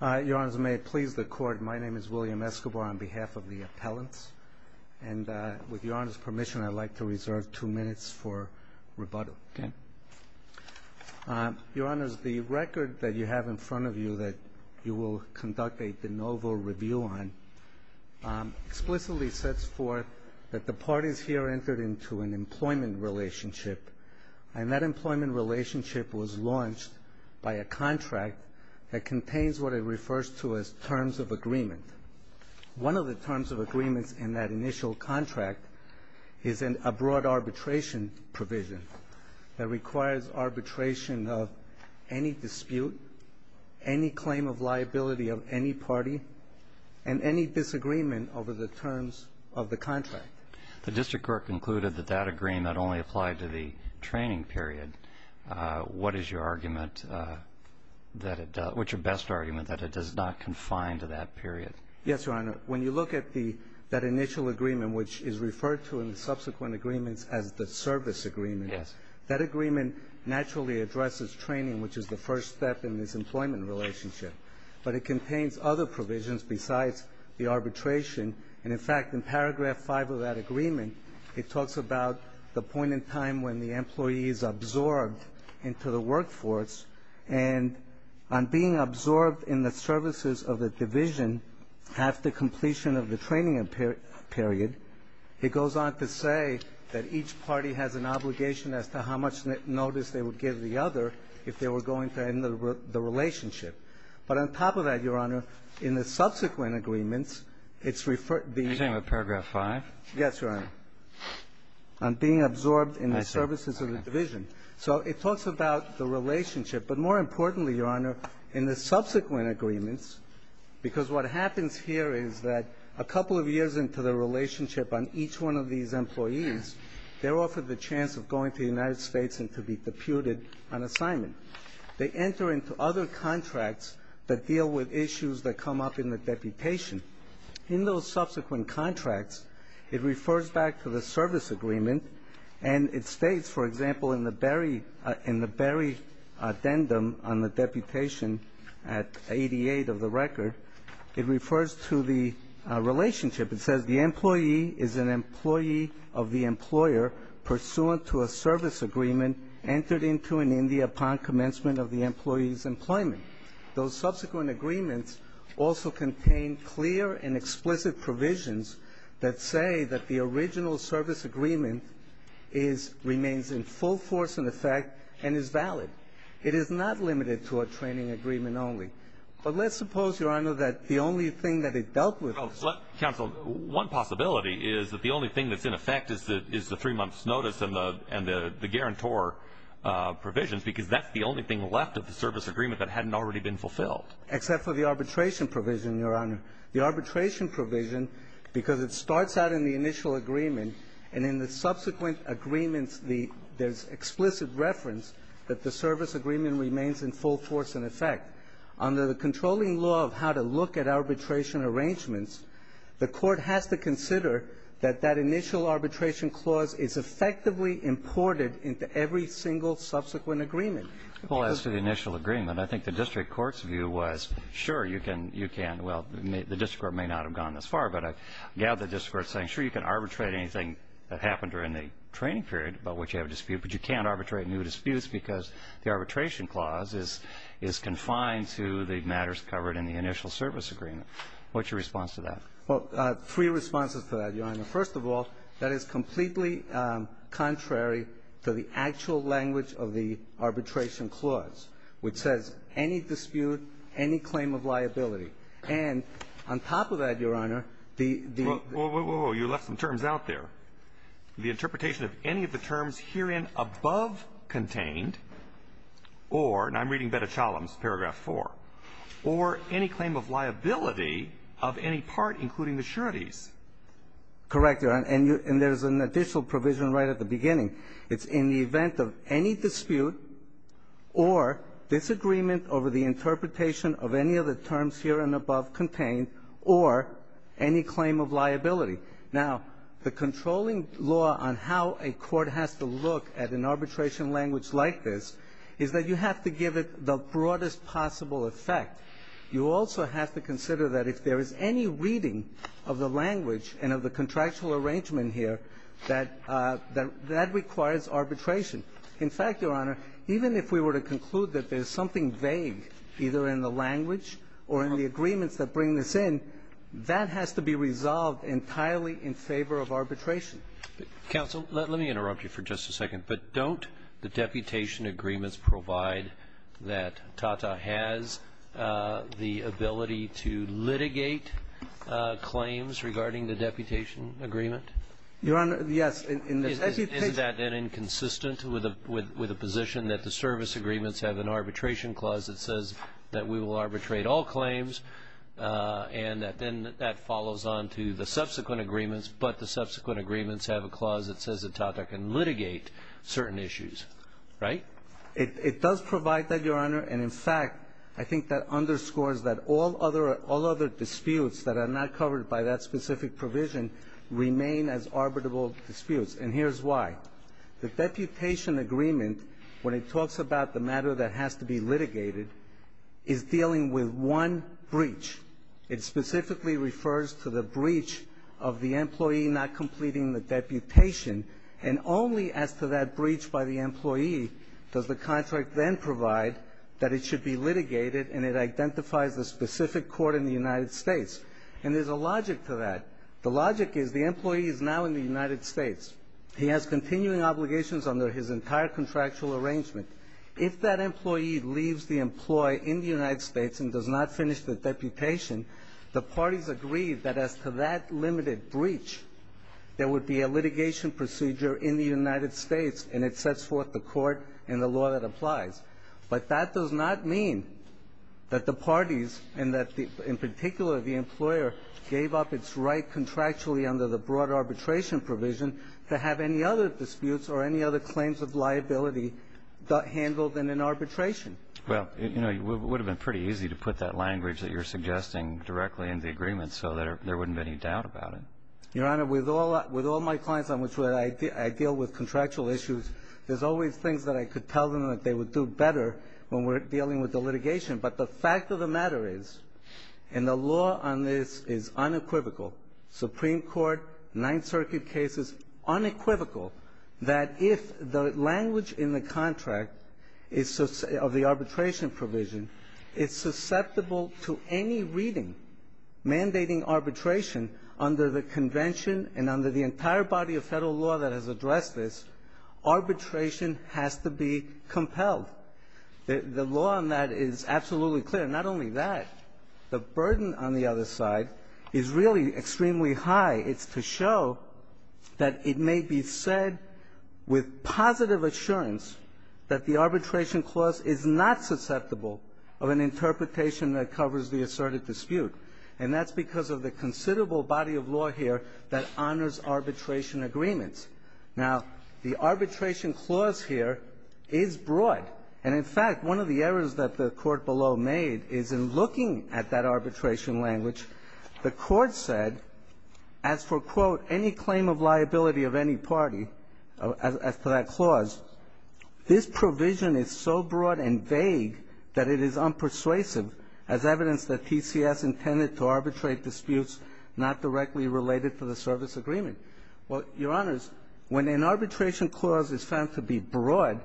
Your Honors, may it please the Court, my name is William Escobar on behalf of the appellants. And with Your Honor's permission, I'd like to reserve two minutes for rebuttal. Okay. Your Honors, the record that you have in front of you that you will conduct a de novo review on explicitly sets forth that the parties here entered into an employment relationship, and that employment relationship was launched by a contract that contains what it refers to as terms of agreement. One of the terms of agreements in that initial contract is a broad arbitration provision that requires arbitration of any dispute, any claim of liability of any party, and any disagreement over the terms of the contract. The district court concluded that that agreement only applied to the training period. What is your argument that it does not confine to that period? Yes, Your Honor. When you look at that initial agreement, which is referred to in the subsequent agreements as the service agreement, that agreement naturally addresses training, which is the first step in this employment relationship. But it contains other provisions besides the arbitration. And, in fact, in paragraph five of that agreement, it talks about the point in time when the employee is absorbed into the workforce. And on being absorbed in the services of the division after completion of the training period, it goes on to say that each party has an obligation as to how much notice they would give the other if they were going to end the relationship. But on top of that, Your Honor, in the subsequent agreements, it's referred to the ---- Are you talking about paragraph five? Yes, Your Honor. On being absorbed in the services of the division. Okay. So it talks about the relationship. But more importantly, Your Honor, in the subsequent agreements, because what happens here is that a couple of years into the relationship on each one of these employees, they're offered the chance of going to the United States and to be deputed on assignment. They enter into other contracts that deal with issues that come up in the deputation. In those subsequent contracts, it refers back to the service agreement. And it states, for example, in the Berry addendum on the deputation at 88 of the record, it refers to the relationship. It says the employee is an employee of the employer pursuant to a service agreement entered into in India upon commencement of the employee's employment. Those subsequent agreements also contain clear and explicit provisions that say that the original service agreement remains in full force in effect and is valid. It is not limited to a training agreement only. But let's suppose, Your Honor, that the only thing that it dealt with ---- Counsel, one possibility is that the only thing that's in effect is the three months' notice and the guarantor provisions because that's the only thing left of the service agreement that hadn't already been fulfilled. Except for the arbitration provision, Your Honor. The arbitration provision, because it starts out in the initial agreement, and in the subsequent agreements there's explicit reference that the service agreement remains in full force in effect. Under the controlling law of how to look at arbitration arrangements, the court has to consider that that initial arbitration clause is effectively imported into every single subsequent agreement. Well, as to the initial agreement, I think the district court's view was, sure, you can ---- well, the district court may not have gone this far, but I gather the district court is saying, sure, you can arbitrate anything that happened during the training period about which you have a dispute, but you can't arbitrate new disputes because the arbitration clause is confined to the matters covered in the initial service agreement. What's your response to that? Well, three responses to that, Your Honor. First of all, that is completely contrary to the actual language of the arbitration clause, which says any dispute, any claim of liability. And on top of that, Your Honor, the ---- Whoa, whoa, whoa. You left some terms out there. The interpretation of any of the terms herein above contained or, and I'm reading Betachalem's paragraph 4, or any claim of liability of any part, including the sureties. Correct, Your Honor. And there's an additional provision right at the beginning. It's in the event of any dispute or disagreement over the interpretation of any of the terms herein above contained or any claim of liability. Now, the controlling law on how a court has to look at an arbitration language like this is that you have to give it the broadest possible effect. You also have to consider that if there is any reading of the language and of the contractual arrangement here, that that requires arbitration. In fact, Your Honor, even if we were to conclude that there's something vague, either in the language or in the agreements that bring this in, that has to be resolved entirely in favor of arbitration. Counsel, let me interrupt you for just a second. But don't the deputation agreements provide that TATA has the ability to litigate claims regarding the deputation agreement? Your Honor, yes. Is that then inconsistent with a position that the service agreements have an arbitration clause that says that we will arbitrate all claims and that then that follows on to the subsequent agreements, but the subsequent agreements have a clause that says that TATA can litigate certain issues, right? It does provide that, Your Honor. And, in fact, I think that underscores that all other disputes that are not covered by that specific provision remain as arbitrable disputes. And here's why. The deputation agreement, when it talks about the matter that has to be litigated, is dealing with one breach. It specifically refers to the breach of the employee not completing the deputation. And only as to that breach by the employee does the contract then provide that it should be litigated and it identifies the specific court in the United States. And there's a logic to that. The logic is the employee is now in the United States. He has continuing obligations under his entire contractual arrangement. If that employee leaves the employee in the United States and does not finish the deputation, the parties agree that as to that limited breach, there would be a litigation procedure in the United States and it sets forth the court and the law that applies. But that does not mean that the parties and that, in particular, the employer gave up its right contractually under the broad arbitration provision to have any other disputes or any other claims of liability handled in an arbitration. Well, you know, it would have been pretty easy to put that language that you're suggesting directly in the agreement so that there wouldn't be any doubt about it. Your Honor, with all my clients on which I deal with contractual issues, there's always things that I could tell them that they would do better when we're dealing with the litigation. But the fact of the matter is, and the law on this is unequivocal, Supreme Court, Ninth Circuit cases, unequivocal, that if the language in the contract is of the arbitration provision, it's susceptible to any reading mandating arbitration under the Convention and under the entire body of Federal law that has addressed this, arbitration has to be compelled. The law on that is absolutely clear. Not only that, the burden on the other side is really extremely high. It's to show that it may be said with positive assurance that the arbitration clause is not susceptible of an interpretation that covers the asserted dispute. And that's because of the considerable body of law here that honors arbitration agreements. Now, the arbitration clause here is broad. And in fact, one of the errors that the Court below made is in looking at that arbitration language, the Court said, as for, quote, any claim of liability of any party as to that clause, this provision is so broad and vague that it is unpersuasive as evidence that TCS intended to arbitrate disputes not directly related to the service agreement. Well, Your Honors, when an arbitration clause is found to be broad,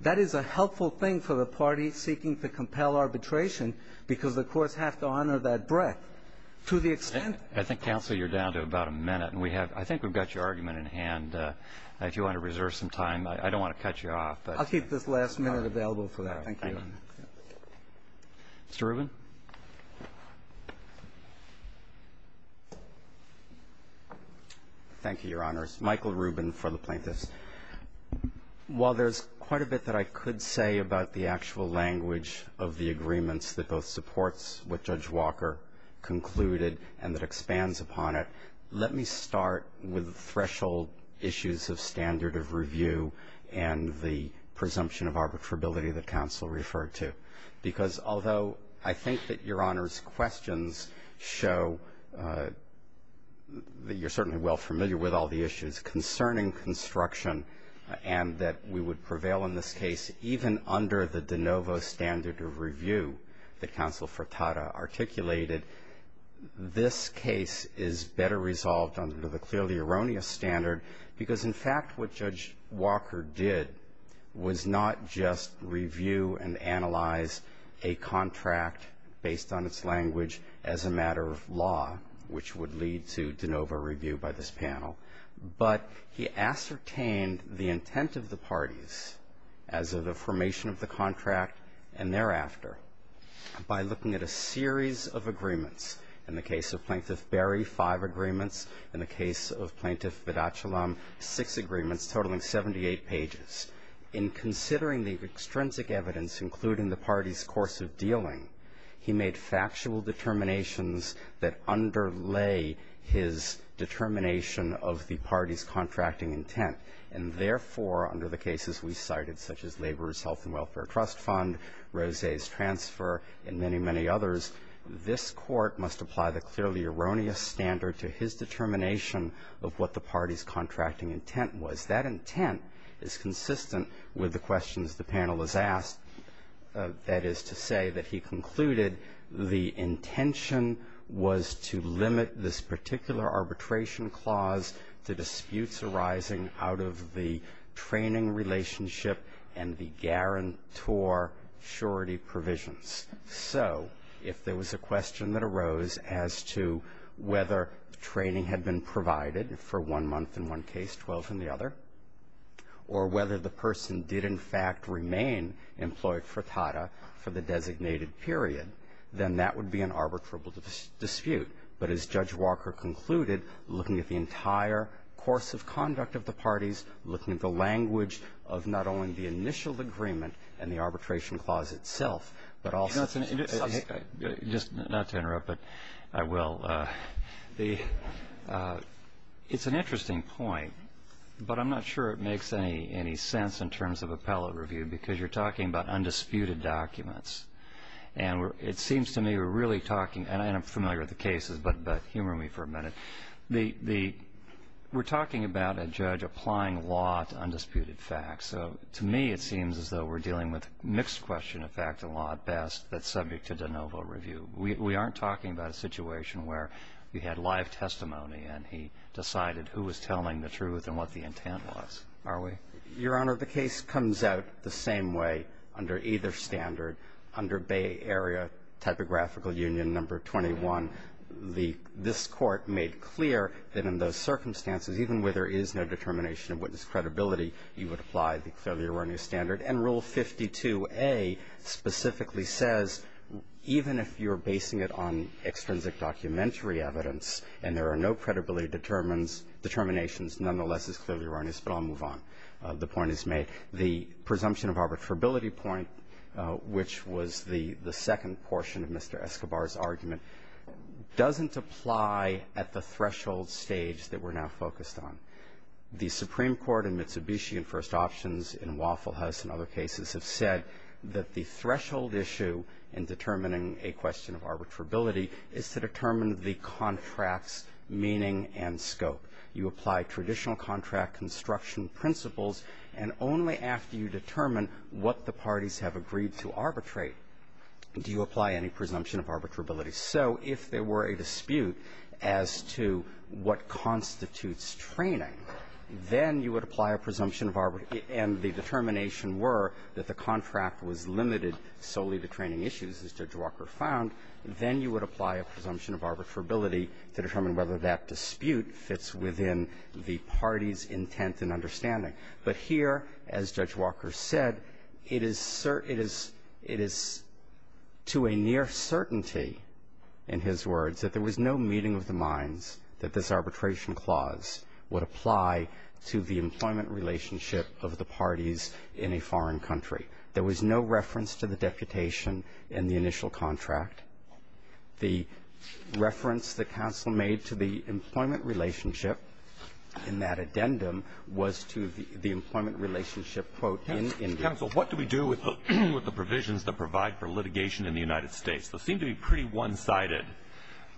that is a helpful thing for the party seeking to compel arbitration, because the courts have to honor that breadth to the extent that the clause is broad. I think, Counsel, you're down to about a minute, and we have – I think we've got your argument in hand. If you want to reserve some time, I don't want to cut you off. I'll keep this last minute available for that. Thank you. Mr. Rubin. Thank you, Your Honors. Michael Rubin for the plaintiffs. While there's quite a bit that I could say about the actual language of the agreements that both supports what Judge Walker concluded and that expands upon it, let me start with threshold issues of standard of review and the presumption of arbitrability that Counsel referred to. Because although I think that Your Honors' questions show that you're certainly well familiar with all the issues concerning construction and that we would prevail in this case even under the de novo standard of review that Counsel Furtado articulated, this case is better resolved under the clearly erroneous standard because, in fact, what Judge Walker did was not just review and analyze a contract based on its language as a matter of law, which would lead to de novo review by this panel, but he ascertained the intent of the parties as of the formation of the contract and thereafter by looking at a series of agreements. In the case of Plaintiff Berry, five agreements. In the case of Plaintiff Bedachilam, six agreements totaling 78 pages. In considering the extrinsic evidence, including the parties' course of dealing, he made factual determinations that underlay his determination of the parties' contracting intent. And therefore, under the cases we cited, such as Laborers' Health and Welfare Trust Fund, Rose's transfer, and many, many others, this Court must apply the clearly erroneous standard to his determination of what the parties' contracting intent was. That intent is consistent with the questions the panel has asked, that is to say that he concluded the intention was to limit this particular arbitration clause to disputes arising out of the training relationship and the guarantor surety provisions. So if there was a question that arose as to whether training had been provided for one month in one case, 12 in the other, or whether the person did in fact remain employed for TADA for the designated period, then that would be an arbitrable dispute. But as Judge Walker concluded, looking at the entire course of conduct of the parties, looking at the language of not only the initial agreement and the arbitration clause itself, but also the subsequent. Just not to interrupt, but I will. The It's an interesting point, but I'm not sure it makes any sense in terms of appellate review because you're talking about undisputed documents. And it seems to me we're really talking, and I'm familiar with the cases, but humor me for a minute. We're talking about a judge applying law to undisputed facts. So to me it seems as though we're dealing with mixed question of fact and law at best that's subject to de novo review. We aren't talking about a situation where you had live testimony and he decided who was telling the truth and what the intent was, are we? Your Honor, the case comes out the same way under either standard, under Bay Area Typographical Union number 21. This Court made clear that in those circumstances, even where there is no determination of witness credibility, you would apply the clearly erroneous standard. And Rule 52A specifically says even if you're basing it on extrinsic documentary evidence and there are no credibility determinations, nonetheless it's clearly erroneous, but I'll move on. The point is made. The presumption of arbitrability point, which was the second portion of Mr. Escobar's argument, doesn't apply at the threshold stage that we're now focused on. The Supreme Court in Mitsubishi and First Options in Waffle House and other cases have said that the threshold issue in determining a question of arbitrability is to determine the contract's meaning and scope. You apply traditional contract construction principles, and only after you determine what the parties have agreed to arbitrate do you apply any presumption of arbitrability. So if there were a dispute as to what constitutes training, then you would apply a presumption of arbitrability, and the determination were that the contract was limited solely to training issues, as Judge Walker found, then you would apply a presumption of arbitrability to determine whether that dispute fits within the party's intent and understanding. But here, as Judge Walker said, it is to a near certainty, in his words, that there was no meeting of the minds that this arbitration clause would apply to the employment relationship of the parties in a foreign country. There was no reference to the deputation in the initial contract. The reference that counsel made to the employment relationship in that addendum was to the employment relationship, quote, in the original contract. What do we do with the provisions that provide for litigation in the United States? Those seem to be pretty one-sided.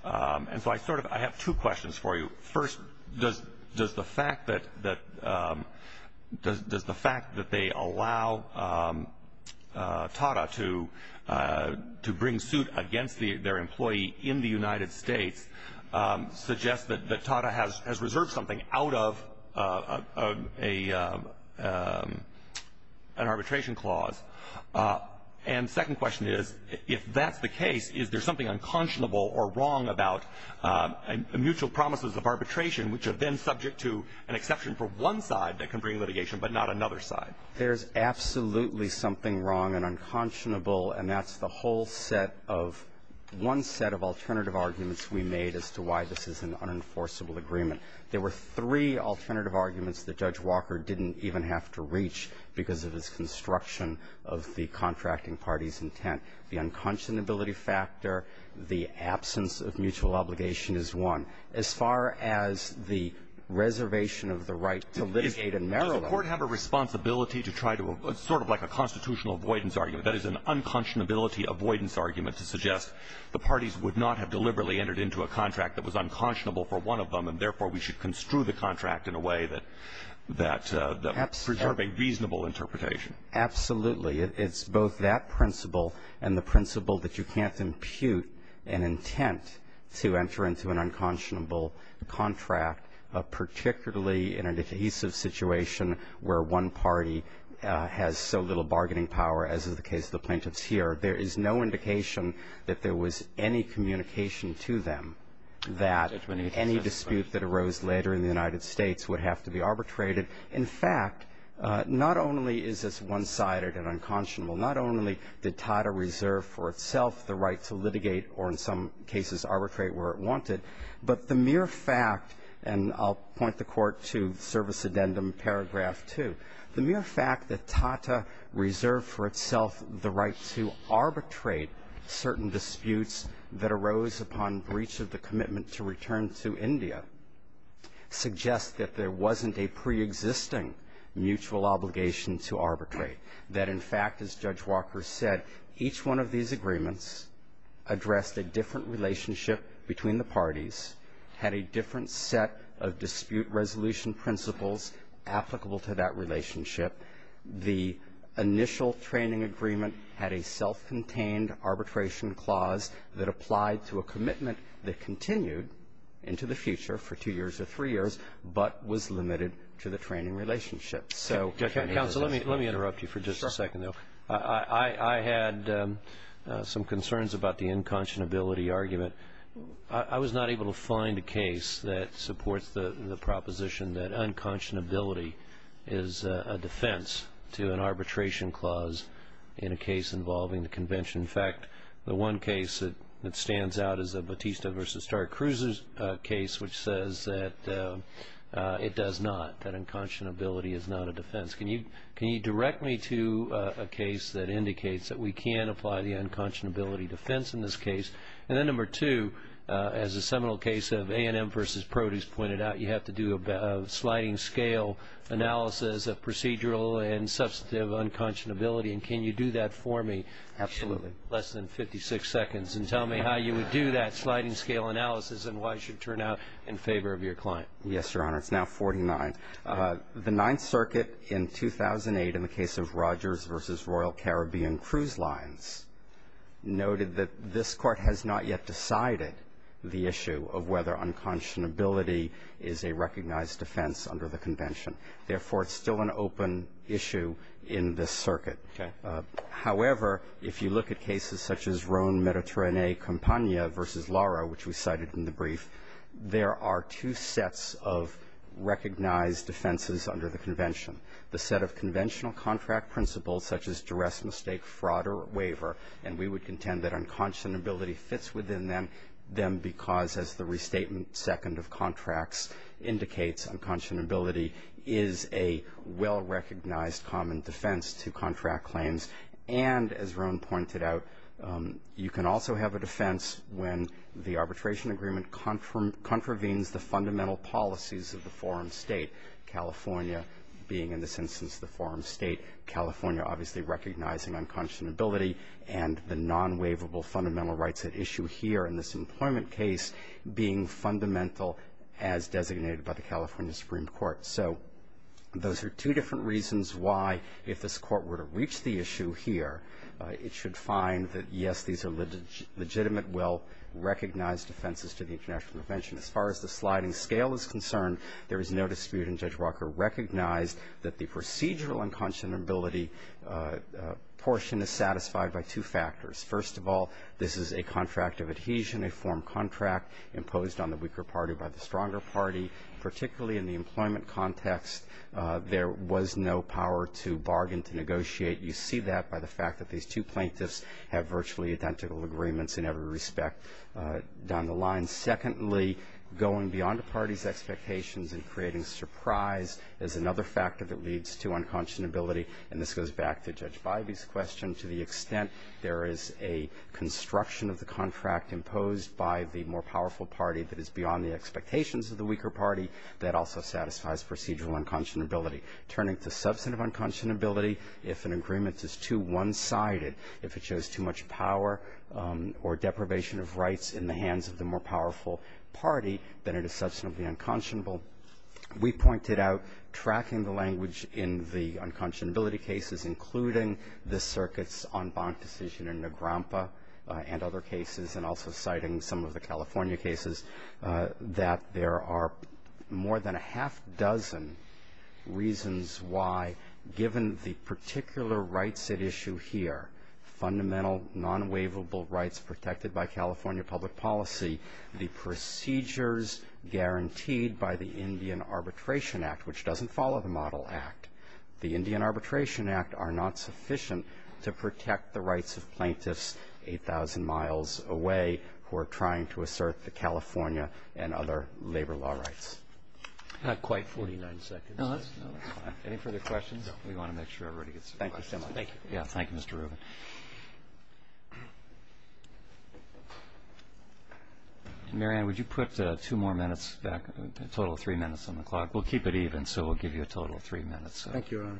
And so I sort of have two questions for you. First, does the fact that they allow TADA to bring suit against their employee in the United States suggest that TADA has reserved something out of an arbitration clause? And the second question is, if that's the case, is there something unconscionable or wrong about mutual promises of arbitration which have been subject to an exception for one side that can bring litigation but not another side? There's absolutely something wrong and unconscionable, and that's the whole set of one set of alternative arguments we made as to why this is an unenforceable agreement. There were three alternative arguments that Judge Walker didn't even have to reach because of his construction of the contracting party's intent. The unconscionability factor, the absence of mutual obligation is one. As far as the reservation of the right to litigate in Maryland. Does the Court have a responsibility to try to sort of like a constitutional avoidance argument, that is, an unconscionability avoidance argument to suggest the parties would not have deliberately entered into a contract that was unconscionable for one of them and, therefore, we should construe the contract in a way that preserves a reasonable interpretation? Absolutely. It's both that principle and the principle that you can't impute an intent to enter into an unconscionable contract, particularly in an adhesive situation where one party has so little bargaining power, as is the case of the plaintiffs here. There is no indication that there was any communication to them that any dispute that arose later in the United States would have to be arbitrated. In fact, not only is this one-sided and unconscionable, not only did Tata reserve for itself the right to litigate or, in some cases, arbitrate where it wanted, but the mere fact, and I'll point the Court to service addendum paragraph 2, the mere fact that Tata reserved for itself the right to arbitrate certain disputes that arose upon breach of the commitment to return to India suggests that there wasn't a preexisting mutual obligation to arbitrate, that, in fact, as Judge Walker said, each one of these agreements addressed a different relationship between the parties, had a different set of dispute resolution principles applicable to that relationship. The initial training agreement had a self-contained arbitration clause that applied to a commitment that continued into the future for two years or three years, but was limited to the training relationship. So any position on that? Justice Alito Counsel, let me interrupt you for just a second, though. I had some concerns about the unconscionability argument. I was not able to find a case that supports the proposition that unconscionability is a defense to an arbitration clause in a case involving the Convention. In fact, the one case that stands out is a Batista v. Stark-Cruz's case, which says that it does not, that unconscionability is not a defense. Can you direct me to a case that indicates that we can apply the unconscionability defense in this case? And then, number two, as the seminal case of A&M v. Produce pointed out, you have to do a sliding-scale analysis of procedural and substantive unconscionability, and can you do that for me? Absolutely. Less than 56 seconds, and tell me how you would do that sliding-scale analysis and why it should turn out in favor of your client. Yes, Your Honor. It's now 49. The Ninth Circuit in 2008, in the case of Rogers v. Royal Caribbean Cruise Lines, noted that this Court has not yet decided the issue of whether unconscionability is a recognized defense under the Convention. Therefore, it's still an open issue in this circuit. Okay. However, if you look at cases such as Rhone-Mediterranean-Campagna v. Lara, which we cited in the brief, there are two sets of recognized defenses under the Convention. The set of conventional contract principles, such as duress, mistake, fraud, or waiver, and we would contend that unconscionability fits within them because, as the restatement second of contracts indicates, unconscionability is a well-recognized common defense to contract claims. And, as Rhone pointed out, you can also have a defense when the arbitration agreement contravenes the fundamental policies of the forum state, California being, in this instance, the forum state, California obviously recognizing unconscionability, and the non-waivable fundamental rights at issue here in this employment case being fundamental as designated by the California Supreme Court. So those are two different reasons why, if this Court were to reach the issue here, it should find that, yes, these are legitimate, well-recognized defenses to the International Convention. As far as the sliding scale is concerned, there is no dispute in Judge Walker recognized that the procedural unconscionability portion is satisfied by two factors. First of all, this is a contract of adhesion, a form contract imposed on the weaker party by the stronger party. Particularly in the employment context, there was no power to bargain, to negotiate. You see that by the fact that these two plaintiffs have virtually identical agreements in every respect down the line. Secondly, going beyond the party's expectations and creating surprise is another factor that leads to unconscionability. And this goes back to Judge Bivey's question. beyond the expectations of the weaker party that also satisfies procedural unconscionability. Turning to substantive unconscionability, if an agreement is too one-sided, if it shows too much power or deprivation of rights in the hands of the more powerful party, then it is substantively unconscionable. We pointed out tracking the language in the unconscionability cases, including the circuits on bond decision in Nagrampa and other cases, and also citing some of the California cases, that there are more than a half dozen reasons why, given the particular rights at issue here, fundamental non-waivable rights protected by California public policy, the procedures guaranteed by the Indian Arbitration Act, which doesn't follow the Model Act. The Indian Arbitration Act are not sufficient to protect the rights of plaintiffs 8,000 miles away who are trying to assert the California and other labor law rights. Not quite 49 seconds. No, that's fine. Any further questions? No. We want to make sure everybody gets some questions. Thank you so much. Thank you. Yeah, thank you, Mr. Rubin. Mary Ann, would you put two more minutes back, a total of three minutes on the clock? Thank you, Your Honor.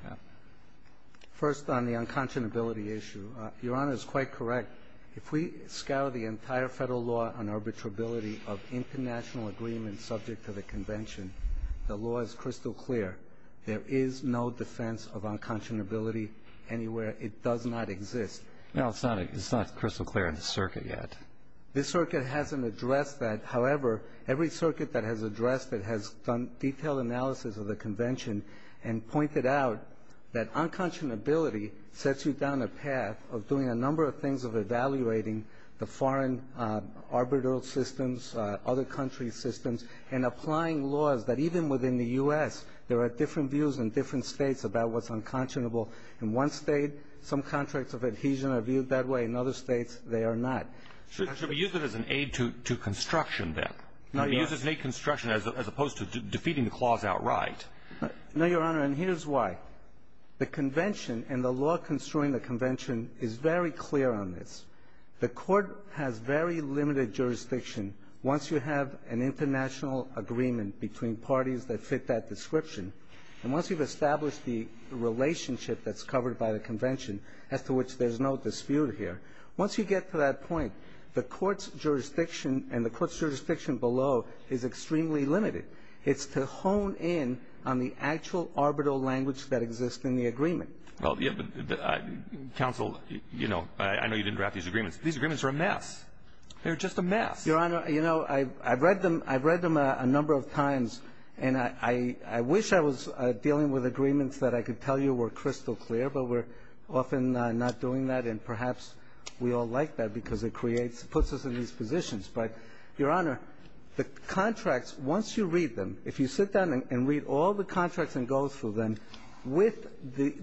First on the unconscionability issue. Your Honor is quite correct. If we scour the entire Federal law on arbitrability of international agreements subject to the Convention, the law is crystal clear. There is no defense of unconscionability anywhere. It does not exist. No, it's not crystal clear in the circuit yet. This circuit hasn't addressed that. However, every circuit that has addressed it has done detailed analysis of the Convention and pointed out that unconscionability sets you down a path of doing a number of things, of evaluating the foreign arbitral systems, other country's systems, and applying laws that even within the U.S. there are different views in different states about what's unconscionable. In one state, some contracts of adhesion are viewed that way. In other states, they are not. Should we use it as an aid to construction then? I mean, use it as an aid to construction as opposed to defeating the clause outright. No, Your Honor. And here's why. The Convention and the law construing the Convention is very clear on this. The Court has very limited jurisdiction once you have an international agreement between parties that fit that description. And once you've established the relationship that's covered by the Convention as to which there's no dispute here, once you get to that point, the Court's is extremely limited. It's to hone in on the actual arbitral language that exists in the agreement. Well, yeah, but counsel, you know, I know you didn't draft these agreements. These agreements are a mess. They're just a mess. Your Honor, you know, I've read them a number of times, and I wish I was dealing with agreements that I could tell you were crystal clear, but we're often not doing that, and perhaps we all like that because it puts us in these positions. But, Your Honor, the contracts, once you read them, if you sit down and read all the contracts and go through them, with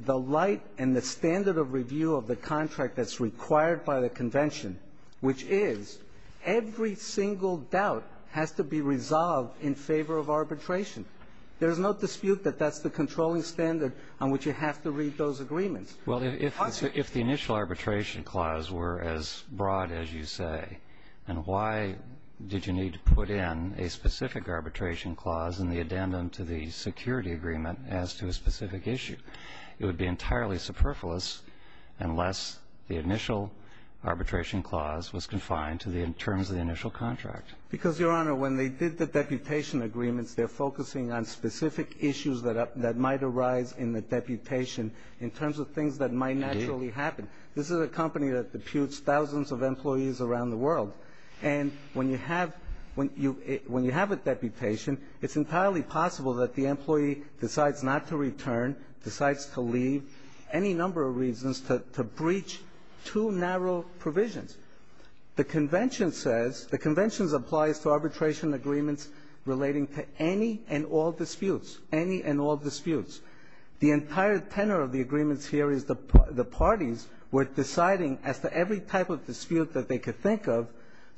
the light and the standard of review of the contract that's required by the Convention, which is every single doubt has to be resolved in favor of arbitration, there's no dispute that that's the controlling standard on which you have to read those agreements. Well, if the initial arbitration clause were as broad as you say, and why did you need to put in a specific arbitration clause in the addendum to the security agreement as to a specific issue? It would be entirely superfluous unless the initial arbitration clause was confined to the terms of the initial contract. Because, Your Honor, when they did the deputation agreements, they're focusing on specific issues that might arise in the deputation in terms of things that might naturally happen. This is a company that deputes thousands of employees around the world. And when you have a deputation, it's entirely possible that the employee decides not to return, decides to leave, any number of reasons to breach two narrow provisions. The Convention says the Convention applies to arbitration agreements relating to any and all disputes, any and all disputes. The entire tenor of the agreements here is the parties were deciding as to every type of dispute that they could think of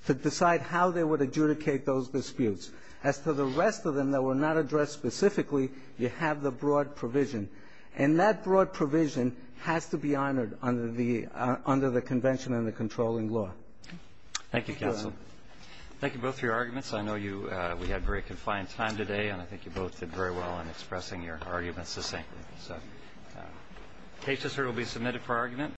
to decide how they would adjudicate those disputes. As to the rest of them that were not addressed specifically, you have the broad provision. And that broad provision has to be honored under the Convention and the controlling law. Thank you, counsel. Thank you both for your arguments. I know we had a very confined time today, and I think you both did very well in expressing your arguments succinctly. So cases here will be submitted for argument.